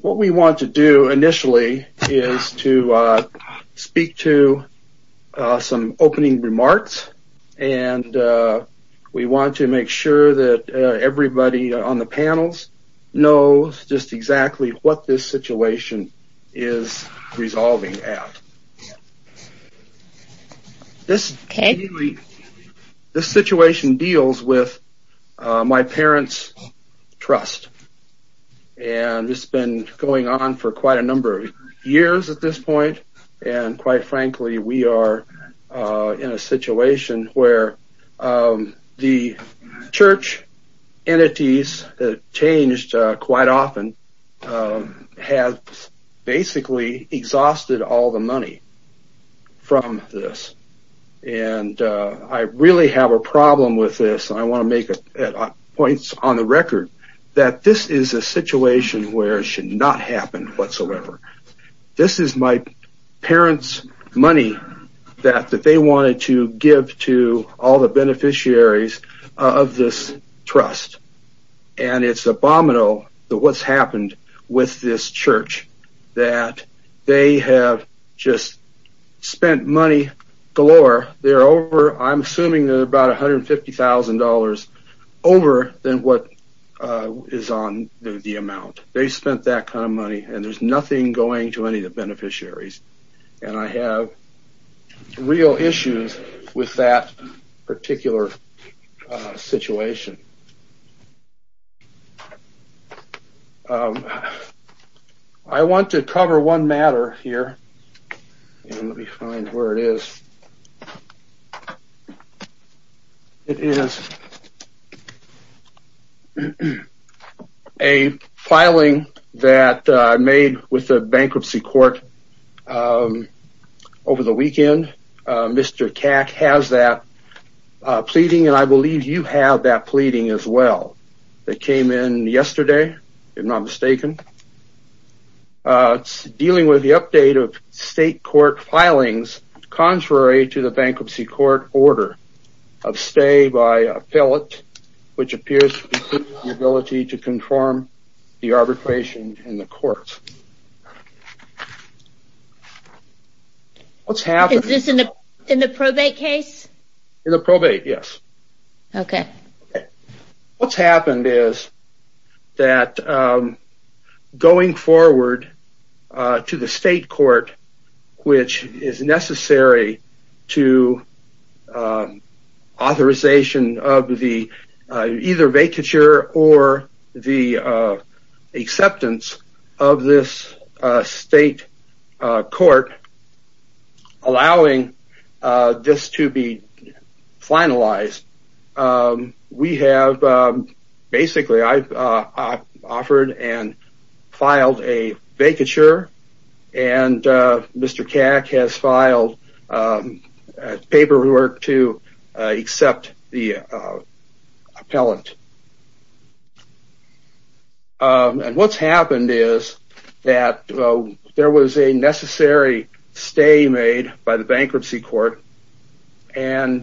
What we want to do initially is to speak to some opening remarks, and we want to make sure that everybody on the panels knows just exactly what this situation is resolving at. This situation deals with my parents' trust, and it's been going on for quite a number of years at this point, and quite frankly we are in a situation where the church entities have changed quite often, and have basically exhausted all the money from this, and I really have a problem with this, and I want to make points on the record that this is a situation where it should not happen whatsoever. This is my parents' money that they wanted to give to all the beneficiaries of this trust, and it's abominable that what's happened with this church, that they have just spent money galore, they're over, I'm assuming they're about $150,000 over than what is on the amount. They spent that kind of money, and there's nothing going to any of the beneficiaries, and I have real issues with that particular situation. I want to cover one matter here. Let me find where it is. It is a filing that I made with the bankruptcy court over the last couple of weeks, and it's a state court filing as well. It came in yesterday, if I'm not mistaken. It's dealing with the update of state court filings, contrary to the bankruptcy court order of stay by appellate, which appears to be What's happened is that going forward to the state court, which is necessary to authorization of the either vacature or the Basically, I've offered and filed a vacature, and Mr. CAC has filed paperwork to accept the appellant, and what's happened is that there was a necessary stay made by the bankruptcy court, and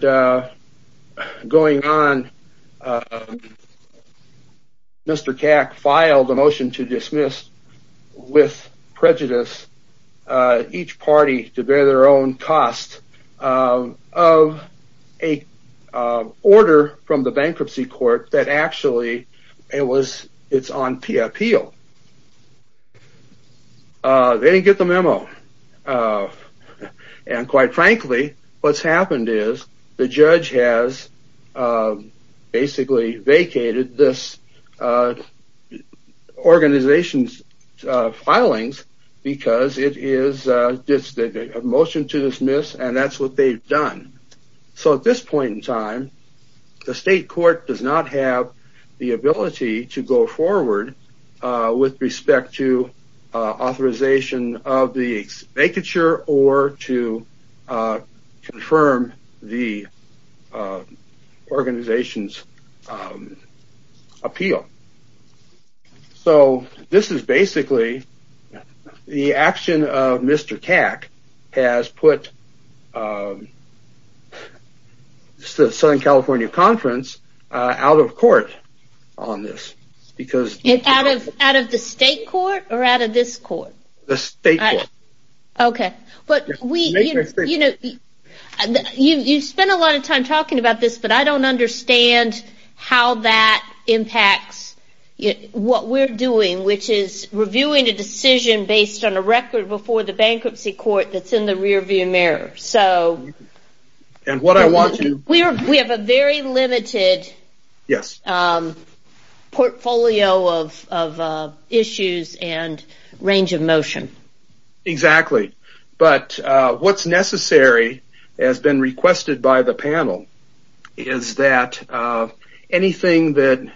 going on, Mr. CAC filed a motion to dismiss with prejudice each party to on appeal. They didn't get the memo, and quite frankly, what's happened is the judge has basically vacated this organization's filings because it is a motion to dismiss, and that's what they've done. So at this point in time, the state court does not have the ability to go forward with respect to authorization of the vacature or to confirm the organization's appeal. So this is basically the action of Mr. CAC has put the Southern California Conference out of court on this. Out of the state court or out of this court? The state court. Okay, but you spent a lot of time talking about this, but I don't understand how that impacts what we're doing, which is reviewing a decision based on a record before the bankruptcy court that's in the rearview mirror. We have a very limited portfolio of issues and range of motion. Exactly, but what's necessary has been requested by the panel is that anything that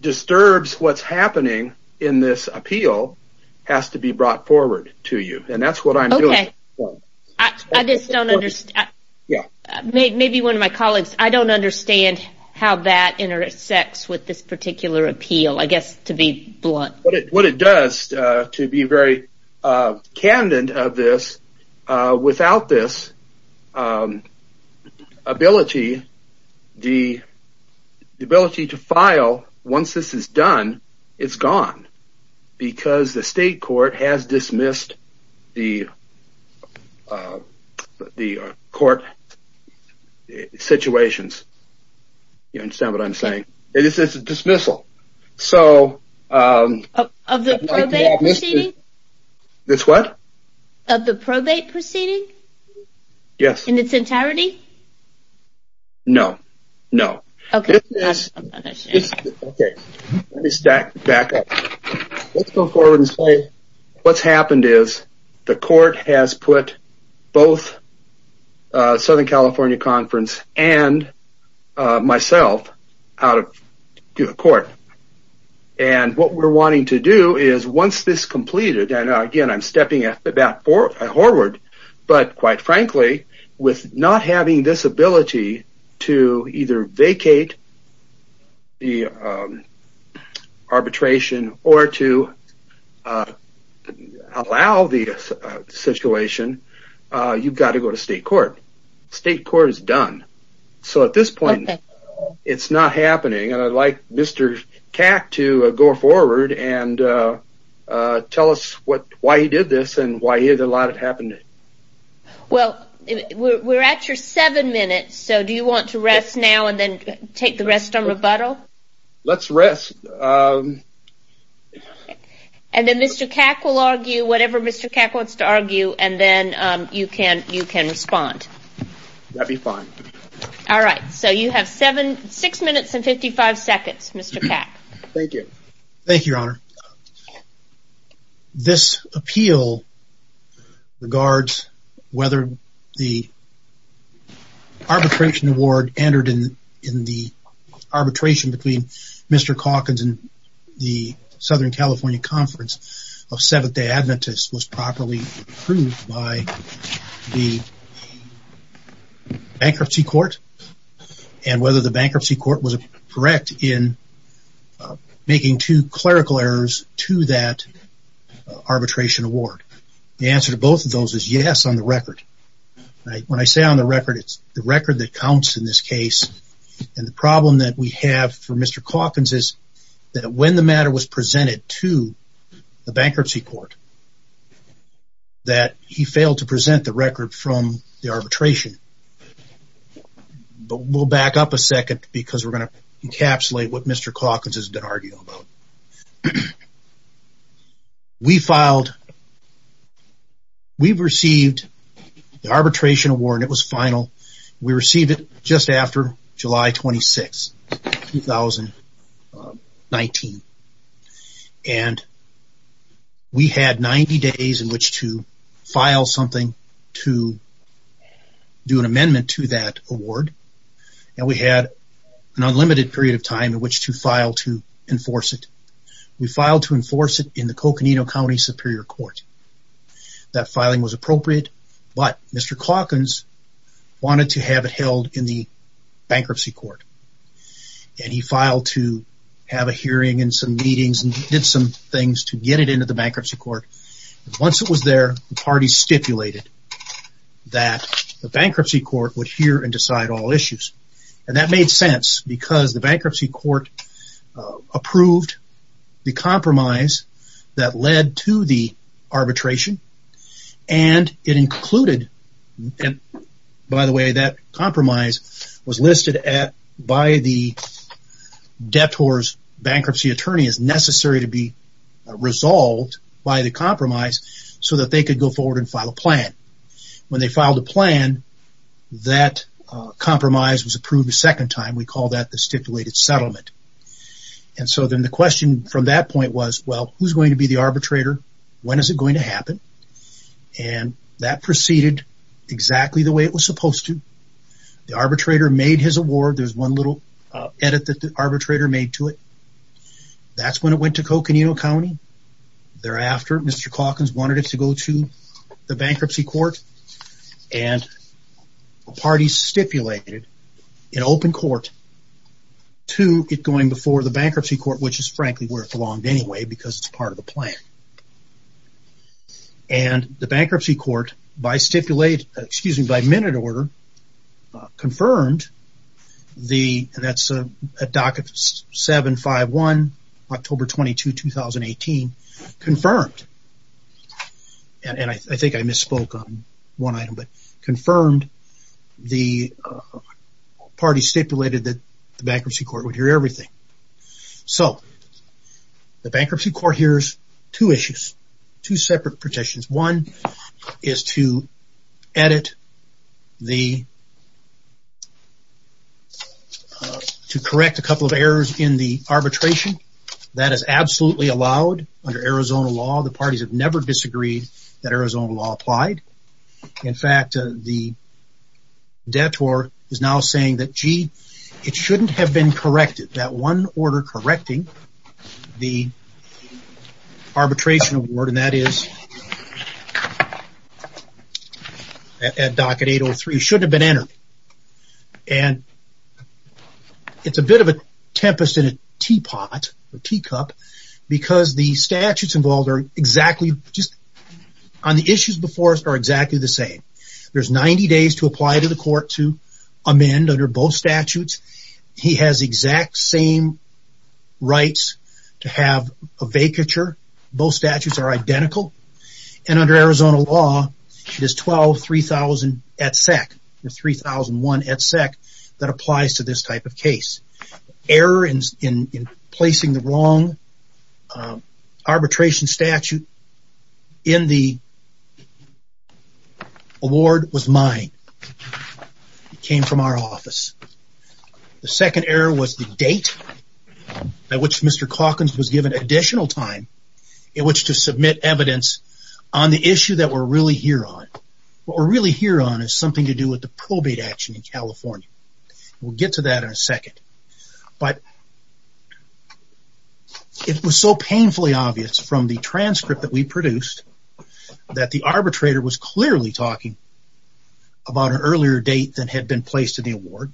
disturbs what's happening in this appeal has to be brought forward to you, and that's what I'm doing. Okay, I just don't understand. Maybe one of my colleagues, I don't understand how that intersects with this particular appeal, I guess to be blunt. What it does to be very candid of this, without this ability, the ability to file once this is done, it's gone because the state court has dismissed the court situations. You understand what I'm saying? It's a dismissal. Of the probate proceeding? This what? Of the probate proceeding? Yes. In its entirety? No, no. Okay. Okay. Let me back up. Let's go forward and say what's happened is the court has put both Southern California Conference and myself out of court. And what we're wanting to do is once this is completed, and again, I'm stepping back forward, but quite frankly, with not having this ability to either vacate the arbitration or to allow the situation, you've got to go to state court. State court is done. So at this point, it's not happening, and I'd like Mr. Kak to go forward and tell us why he did this and why he didn't allow it to happen. Well, we're at your seven minutes, so do you want to rest now and then take the rest on rebuttal? Let's rest. And then Mr. Kak will argue whatever Mr. Kak wants to argue, and then you can respond. That'd be fine. All right. So you have six minutes and 55 seconds, Mr. Kak. Thank you, Your Honor. This appeal regards whether the arbitration award entered in the arbitration between Mr. Kak and the Southern California Conference of Seventh-day Adventists was properly approved by the bankruptcy court. And whether the bankruptcy court was correct in making two clerical errors to that arbitration award. The answer to both of those is yes on the record. When I say on the record, it's the record that counts in this case. And the problem that we have for Mr. Kalkins is that when the matter was presented to the bankruptcy court, that he failed to present the record from the arbitration. But we'll back up a second because we're going to encapsulate what Mr. Kalkins has been arguing about. We filed. We've received the arbitration award. It was final. We received it just after July 26, 2019. And we had 90 days in which to file something to do an amendment to that award. And we had an unlimited period of time in which to file to enforce it. We filed to enforce it in the Coconino County Superior Court. That filing was appropriate. But Mr. Kalkins wanted to have it held in the bankruptcy court. And he filed to have a hearing and some meetings and did some things to get it into the bankruptcy court. Once it was there, the party stipulated that the bankruptcy court would hear and decide all issues. And that made sense because the bankruptcy court approved the compromise that led to the arbitration. And it included, by the way, that compromise was listed by the debtors bankruptcy attorney as necessary to be resolved by the compromise so that they could go forward and file a plan. When they filed a plan, that compromise was approved a second time. We call that the stipulated settlement. And so then the question from that point was, well, who's going to be the arbitrator? When is it going to happen? And that proceeded exactly the way it was supposed to. The arbitrator made his award. There's one little edit that the arbitrator made to it. That's when it went to Coconino County. Thereafter, Mr. Kalkins wanted it to go to the bankruptcy court. And the party stipulated in open court to get going before the bankruptcy court, which is frankly where it belonged anyway because it's part of the plan. And the bankruptcy court, by minute order, confirmed the, and that's at docket 751, October 22, 2018, confirmed. And I think I misspoke on one item, but confirmed the party stipulated that the bankruptcy court would hear everything. So the bankruptcy court hears two issues, two separate petitions. One is to edit the, to correct a couple of errors in the arbitration. That is absolutely allowed under Arizona law. The parties have never disagreed that Arizona law applied. In fact, the detour is now saying that, gee, it shouldn't have been corrected. That one order correcting the arbitration award, and that is at docket 803, shouldn't have been entered. And it's a bit of a tempest in a teapot, a teacup, because the statutes involved are exactly just, on the issues before us are exactly the same. There's 90 days to apply to the court to amend under both statutes. He has exact same rights to have a vacature. Both statutes are identical. And under Arizona law, it is 12-3000-ETSEC, the 3001-ETSEC that applies to this type of case. Error in placing the wrong arbitration statute in the award was mine. It came from our office. The second error was the date by which Mr. Calkins was given additional time in which to submit evidence on the issue that we're really here on. What we're really here on is something to do with the probate action in California. We'll get to that in a second. But it was so painfully obvious from the transcript that we produced that the arbitrator was clearly talking about an earlier date than had been placed in the award,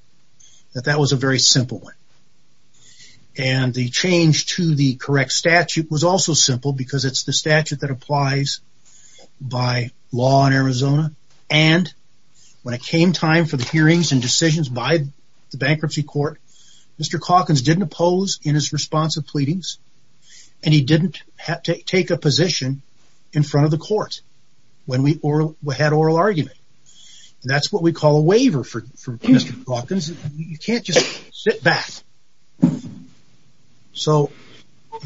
that that was a very simple one. And the change to the correct statute was also simple because it's the statute that applies by law in Arizona. And when it came time for the hearings and decisions by the bankruptcy court, Mr. Calkins didn't oppose in his response of pleadings. And he didn't take a position in front of the court when we had oral argument. That's what we call a waiver for Mr. Calkins. You can't just sit back. So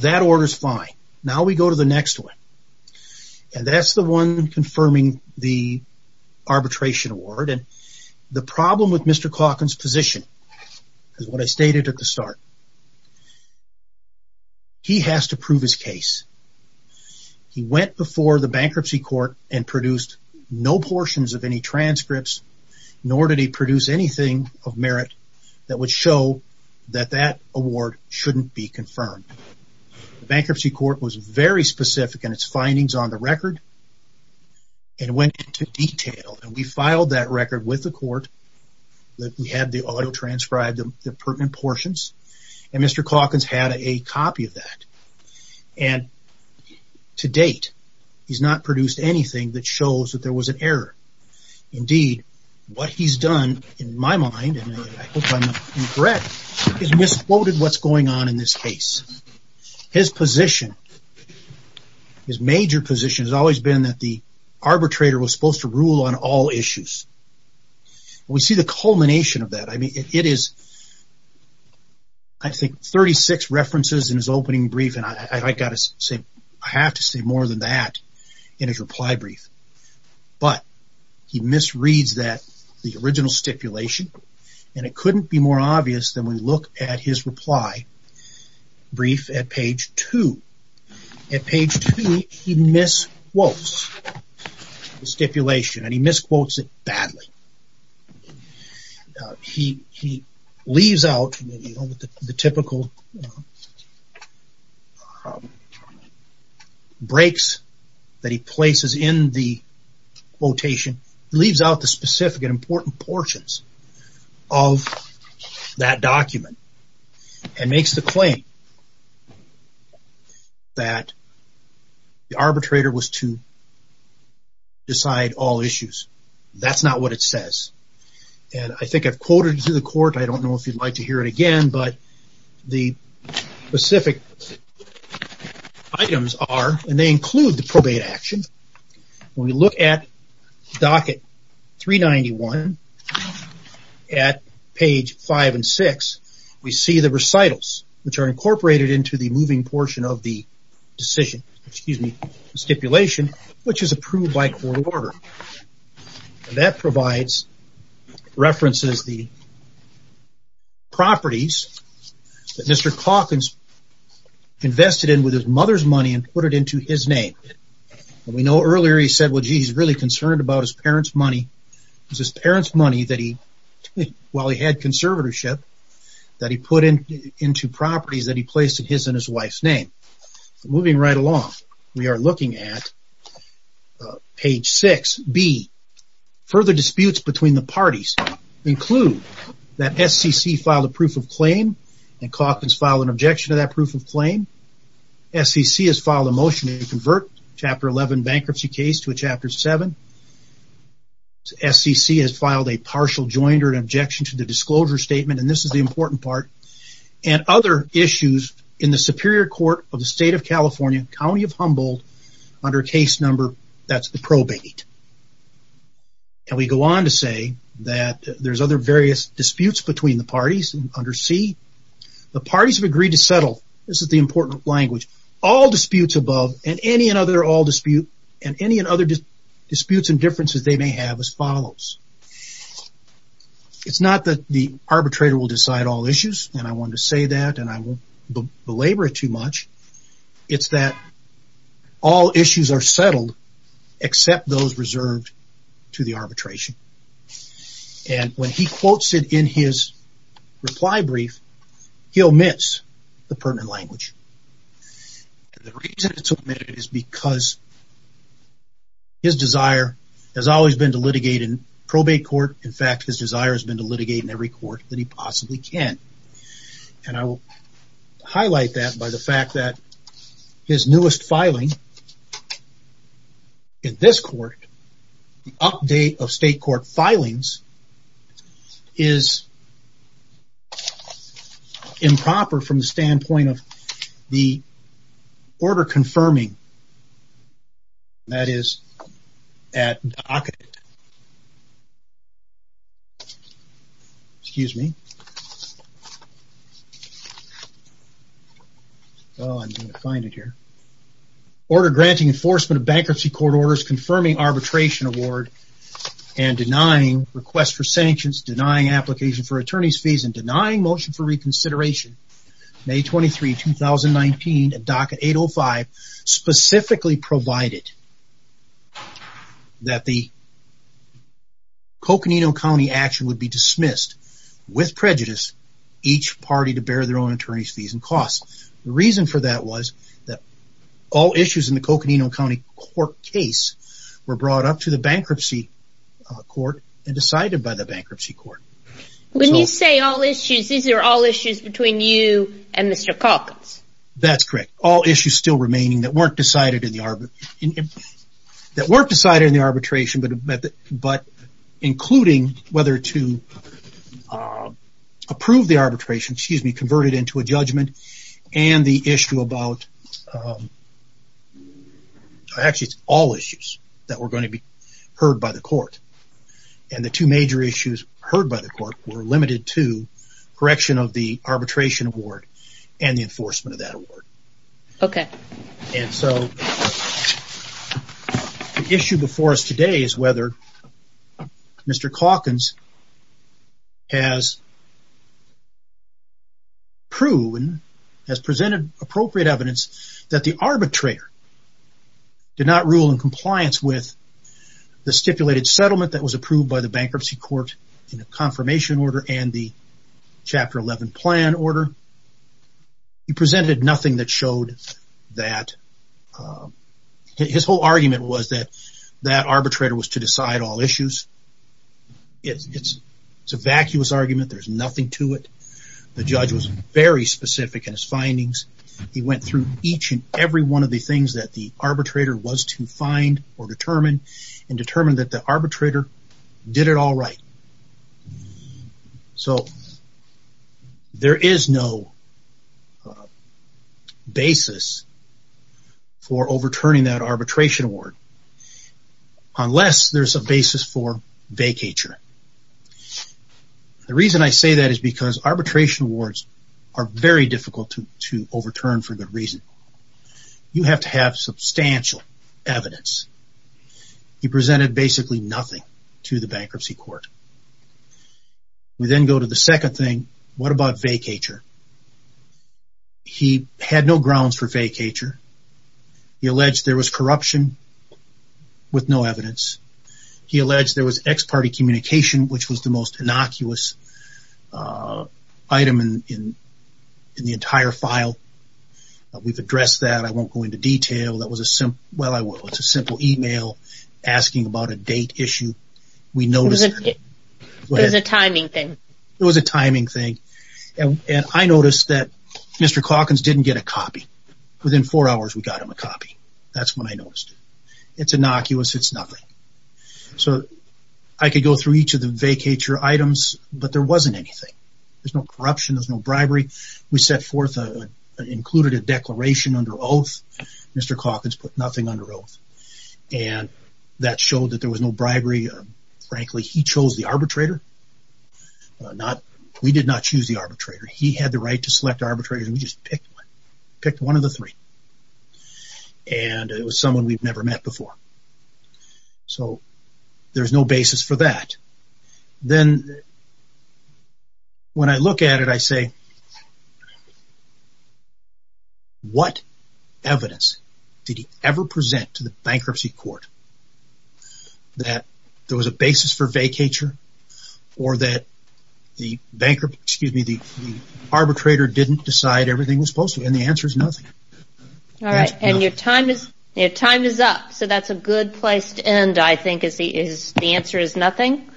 that order's fine. Now we go to the next one. And that's the one confirming the arbitration award. And the problem with Mr. Calkins' position is what I stated at the start. He has to prove his case. He went before the bankruptcy court and produced no portions of any transcripts, nor did he produce anything of merit that would show that that award shouldn't be confirmed. The bankruptcy court was very specific in its findings on the record and went into detail. And we filed that record with the court. We had the auto-transcribed, the pertinent portions. And Mr. Calkins had a copy of that. And to date, he's not produced anything that shows that there was an error. Indeed, what he's done, in my mind, and I hope I'm correct, is misquoted what's going on in this case. His position, his major position, has always been that the arbitrator was supposed to rule on all issues. We see the culmination of that. I mean, it is, I think, 36 references in his opening brief, and I have to say more than that in his reply brief. But he misreads that, the original stipulation, and it couldn't be more obvious than when we look at his reply brief at page 2. At page 2, he misquotes the stipulation, and he misquotes it badly. He leaves out the typical breaks that he places in the quotation. He leaves out the specific and important portions of that document and makes the claim that the arbitrator was to decide all issues. That's not what it says. And I think I've quoted it to the court, I don't know if you'd like to hear it again, but the specific items are, and they include the probate action. When we look at docket 391 at page 5 and 6, we see the recitals, which are incorporated into the moving portion of the stipulation, which is approved by court order. That provides, references the properties that Mr. Calkins invested in with his mother's money and put it into his name. We know earlier he said, well, gee, he's really concerned about his parents' money. It was his parents' money that he, while he had conservatorship, that he put into properties that he placed in his and his wife's name. Moving right along, we are looking at page 6B. Further disputes between the parties include that SCC filed a proof of claim and Calkins filed an objection to that proof of claim. SCC has filed a motion to convert Chapter 11 bankruptcy case to a Chapter 7. SCC has filed a partial joint or an objection to the disclosure statement, and this is the important part. Other issues in the Superior Court of the State of California, County of Humboldt, under case number, that's the probate. We go on to say that there's other various disputes between the parties under C. The parties have agreed to settle, this is the important language, all disputes above and any and other disputes and differences they may have as follows. It's not that the arbitrator will decide all issues, and I want to say that, and I won't belabor it too much. It's that all issues are settled except those reserved to the arbitration. And when he quotes it in his reply brief, he omits the pertinent language. The reason it's omitted is because his desire has always been to litigate in probate court. In fact, his desire has been to litigate in every court that he possibly can. And I will highlight that by the fact that his newest filing in this court, the update of state court filings, is improper from the standpoint of the order confirming that is at docket. Oh, I'm going to find it here. Order granting enforcement of bankruptcy court orders confirming arbitration award and denying request for sanctions, denying application for attorney's fees, and denying motion for reconsideration, May 23, 2019 at docket 805, specifically provided that the Coconino County action would be dismissed with prejudice, each party to bear their own attorney's fees and costs. The reason for that was that all issues in the Coconino County court case were brought up to the bankruptcy court and decided by the bankruptcy court. When you say all issues, these are all issues between you and Mr. Calkins. That's correct. All issues still remaining that weren't decided in the arbitration, but including whether to approve the arbitration, excuse me, converted into a judgment and the issue about, actually it's all issues that were going to be heard by the court. And the two major issues heard by the court were limited to correction of the arbitration award and the enforcement of that award. Okay. And so the issue before us today is whether Mr. Calkins has proven, has presented appropriate evidence that the arbitrator did not rule in compliance with the stipulated settlement that was approved by the bankruptcy court in the confirmation order and the chapter 11 plan order. He presented nothing that showed that. His whole argument was that that arbitrator was to decide all issues. It's a vacuous argument. There's nothing to it. The judge was very specific in his findings. He went through each and every one of the things that the arbitrator was to find or determine and determine that the arbitrator did it all right. So there is no basis for overturning that arbitration award unless there's a basis for vacatur. The reason I say that is because arbitration awards are very difficult to overturn for good reason. You have to have substantial evidence. He presented basically nothing to the bankruptcy court. We then go to the second thing. What about vacatur? He had no grounds for vacatur. He alleged there was corruption with no evidence. He alleged there was ex-party communication, which was the most innocuous item in the entire file. We've addressed that. I won't go into detail. That was a simple email asking about a date issue. We noticed that. It was a timing thing. It was a timing thing. And I noticed that Mr. Calkins didn't get a copy. Within four hours, we got him a copy. That's when I noticed. It's innocuous. It's nothing. So I could go through each of the vacatur items, but there wasn't anything. There's no corruption. There's no bribery. We set forth and included a declaration under oath. Mr. Calkins put nothing under oath. And that showed that there was no bribery. Frankly, he chose the arbitrator. We did not choose the arbitrator. He had the right to select arbitrators, and we just picked one. We picked one of the three. And it was someone we've never met before. So there's no basis for that. Then when I look at it, I say, what evidence did he ever present to the bankruptcy court that there was a basis for vacatur or that the arbitrator didn't decide everything was posted? And the answer is nothing. All right, and your time is up. So that's a good place to end, I think, is the answer is nothing.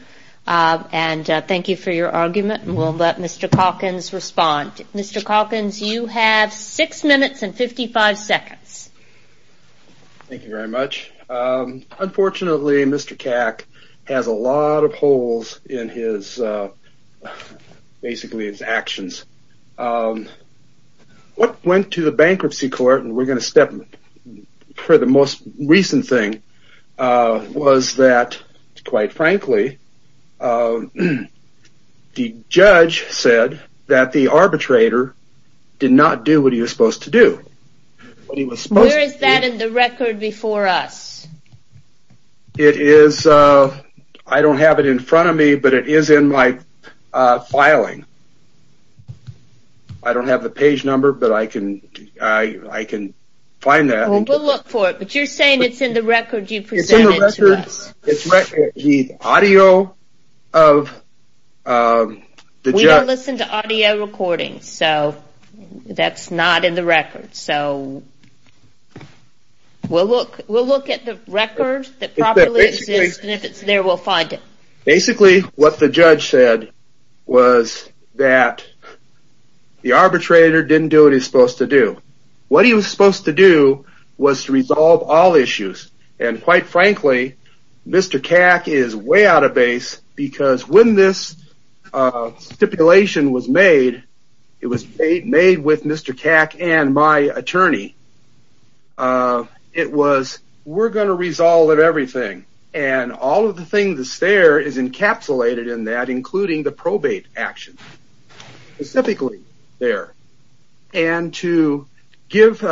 And thank you for your argument, and we'll let Mr. Calkins respond. Mr. Calkins, you have six minutes and 55 seconds. Thank you very much. Unfortunately, Mr. Cack has a lot of holes in basically his actions. What went to the bankruptcy court, and we're going to step for the most recent thing, was that, quite frankly, the judge said that the arbitrator did not do what he was supposed to do. Where is that in the record before us? I don't have it in front of me, but it is in my filing. I don't have the page number, but I can find that. Well, we'll look for it, but you're saying it's in the record you presented to us. It's in the record. The audio of the judge. We don't listen to audio recordings, so that's not in the record. So we'll look at the record that properly exists, and if it's there, we'll find it. Basically, what the judge said was that the arbitrator didn't do what he was supposed to do. What he was supposed to do was to resolve all issues, and quite frankly, Mr. Cack is way out of base, because when this stipulation was made, it was made with Mr. Cack and my attorney. It was, we're going to resolve everything, and all of the things that's there is encapsulated in that, including the probate action, specifically there, and to give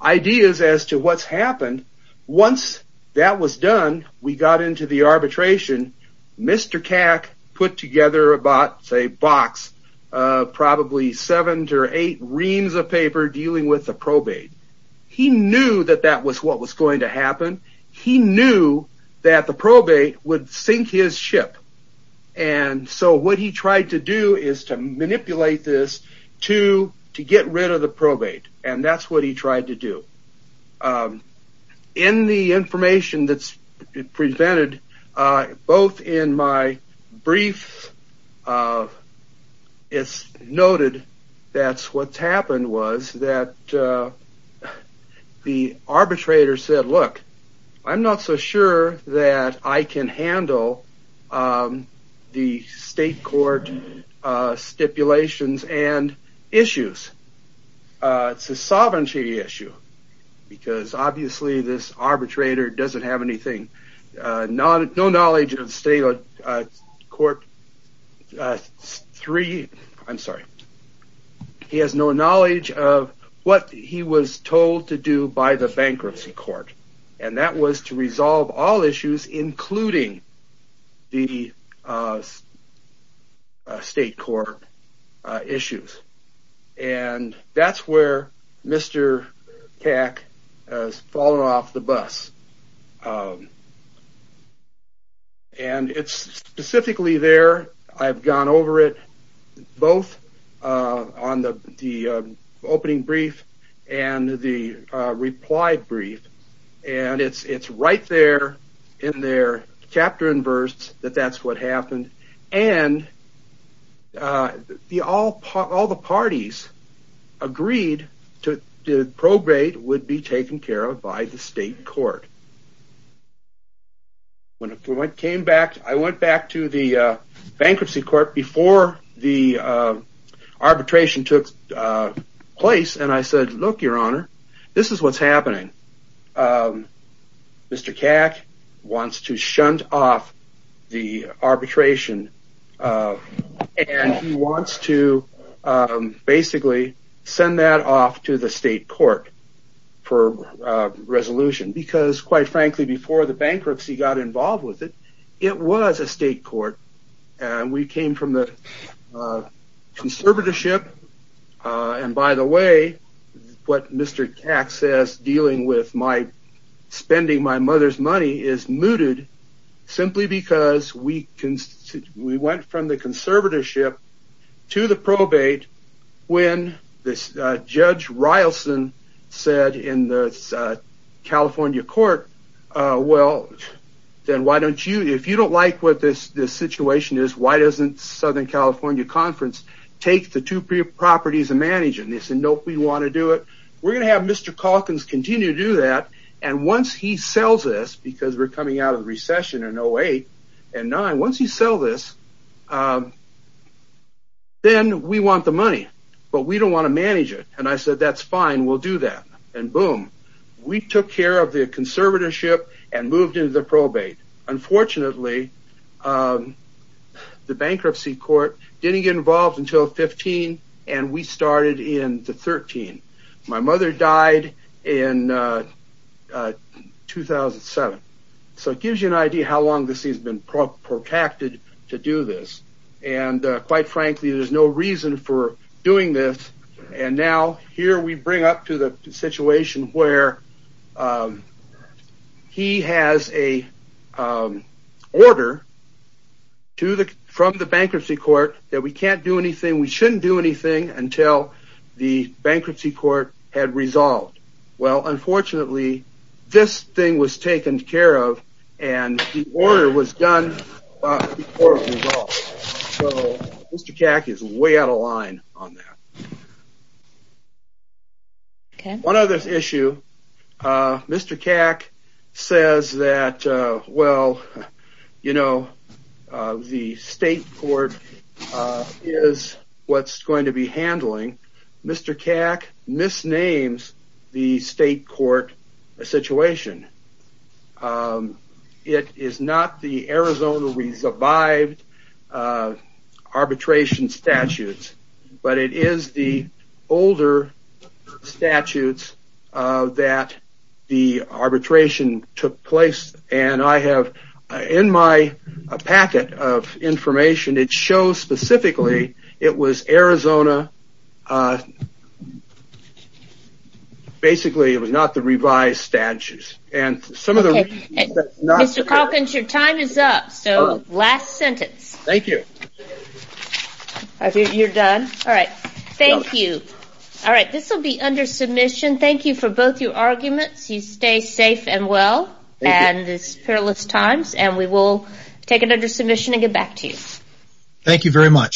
ideas as to what's happened. Once that was done, we got into the arbitration. Mr. Cack put together about, say, a box of probably seven to eight reams of paper dealing with the probate. He knew that that was what was going to happen. He knew that the probate would sink his ship, and so what he tried to do is to manipulate this to get rid of the probate, and that's what he tried to do. In the information that's presented, both in my brief, it's noted that what's happened was that the arbitrator said, look, I'm not so sure that I can handle the state court stipulations and issues. It's a sovereignty issue, because obviously this arbitrator doesn't have anything, no knowledge of state court three. I'm sorry. He has no knowledge of what he was told to do by the bankruptcy court, and that was to resolve all issues, including the state court issues, and that's where Mr. Cack has fallen off the bus. And it's specifically there. I've gone over it both on the opening brief and the reply brief, and it's right there in their chapter and verse that that's what happened, and all the parties agreed that the probate would be taken care of by the state court. I went back to the bankruptcy court before the arbitration took place, and I said, look, your honor, this is what's happening. Mr. Cack wants to shunt off the arbitration, and he wants to basically send that off to the state court for resolution, because quite frankly, before the bankruptcy got involved with it, it was a state court, and we came from the conservatorship, and by the way, what Mr. Cack says, dealing with my spending my mother's money is mooted, simply because we went from the conservatorship to the probate when Judge Rileson said in the California court, well, then why don't you, if you don't like what this situation is, why doesn't Southern California Conference take the two properties and manage it, and they said, nope, we want to do it. We're going to have Mr. Calkins continue to do that, and once he sells this, because we're coming out of the recession in 08 and 09, once you sell this, then we want the money, but we don't want to manage it, and I said, that's fine, we'll do that, and boom. We took care of the conservatorship and moved into the probate. Unfortunately, the bankruptcy court didn't get involved until 15, and we started in the 13. My mother died in 2007, so it gives you an idea how long this has been protracted to do this, and quite frankly, there's no reason for doing this, and now here we bring up to the situation where he has a order from the bankruptcy court that we can't do anything, we shouldn't do anything until the bankruptcy court had resolved. Well, unfortunately, this thing was taken care of, and the order was done before it was resolved, so Mr. Calkins is way out of line on that. One other issue, Mr. Calkins says that, well, you know, the state court is what's going to be handling. Mr. Calkins misnames the state court situation. It is not the Arizona we survived arbitration statutes, but it is the older statutes that the arbitration took place, and I have in my packet of information, it shows specifically it was Arizona, basically it was not the revised statutes. Mr. Calkins, your time is up, so last sentence. Thank you. You're done? All right, thank you. All right, this will be under submission. Thank you for both your arguments. You stay safe and well in these perilous times, and we will take it under submission and get back to you. Thank you very much.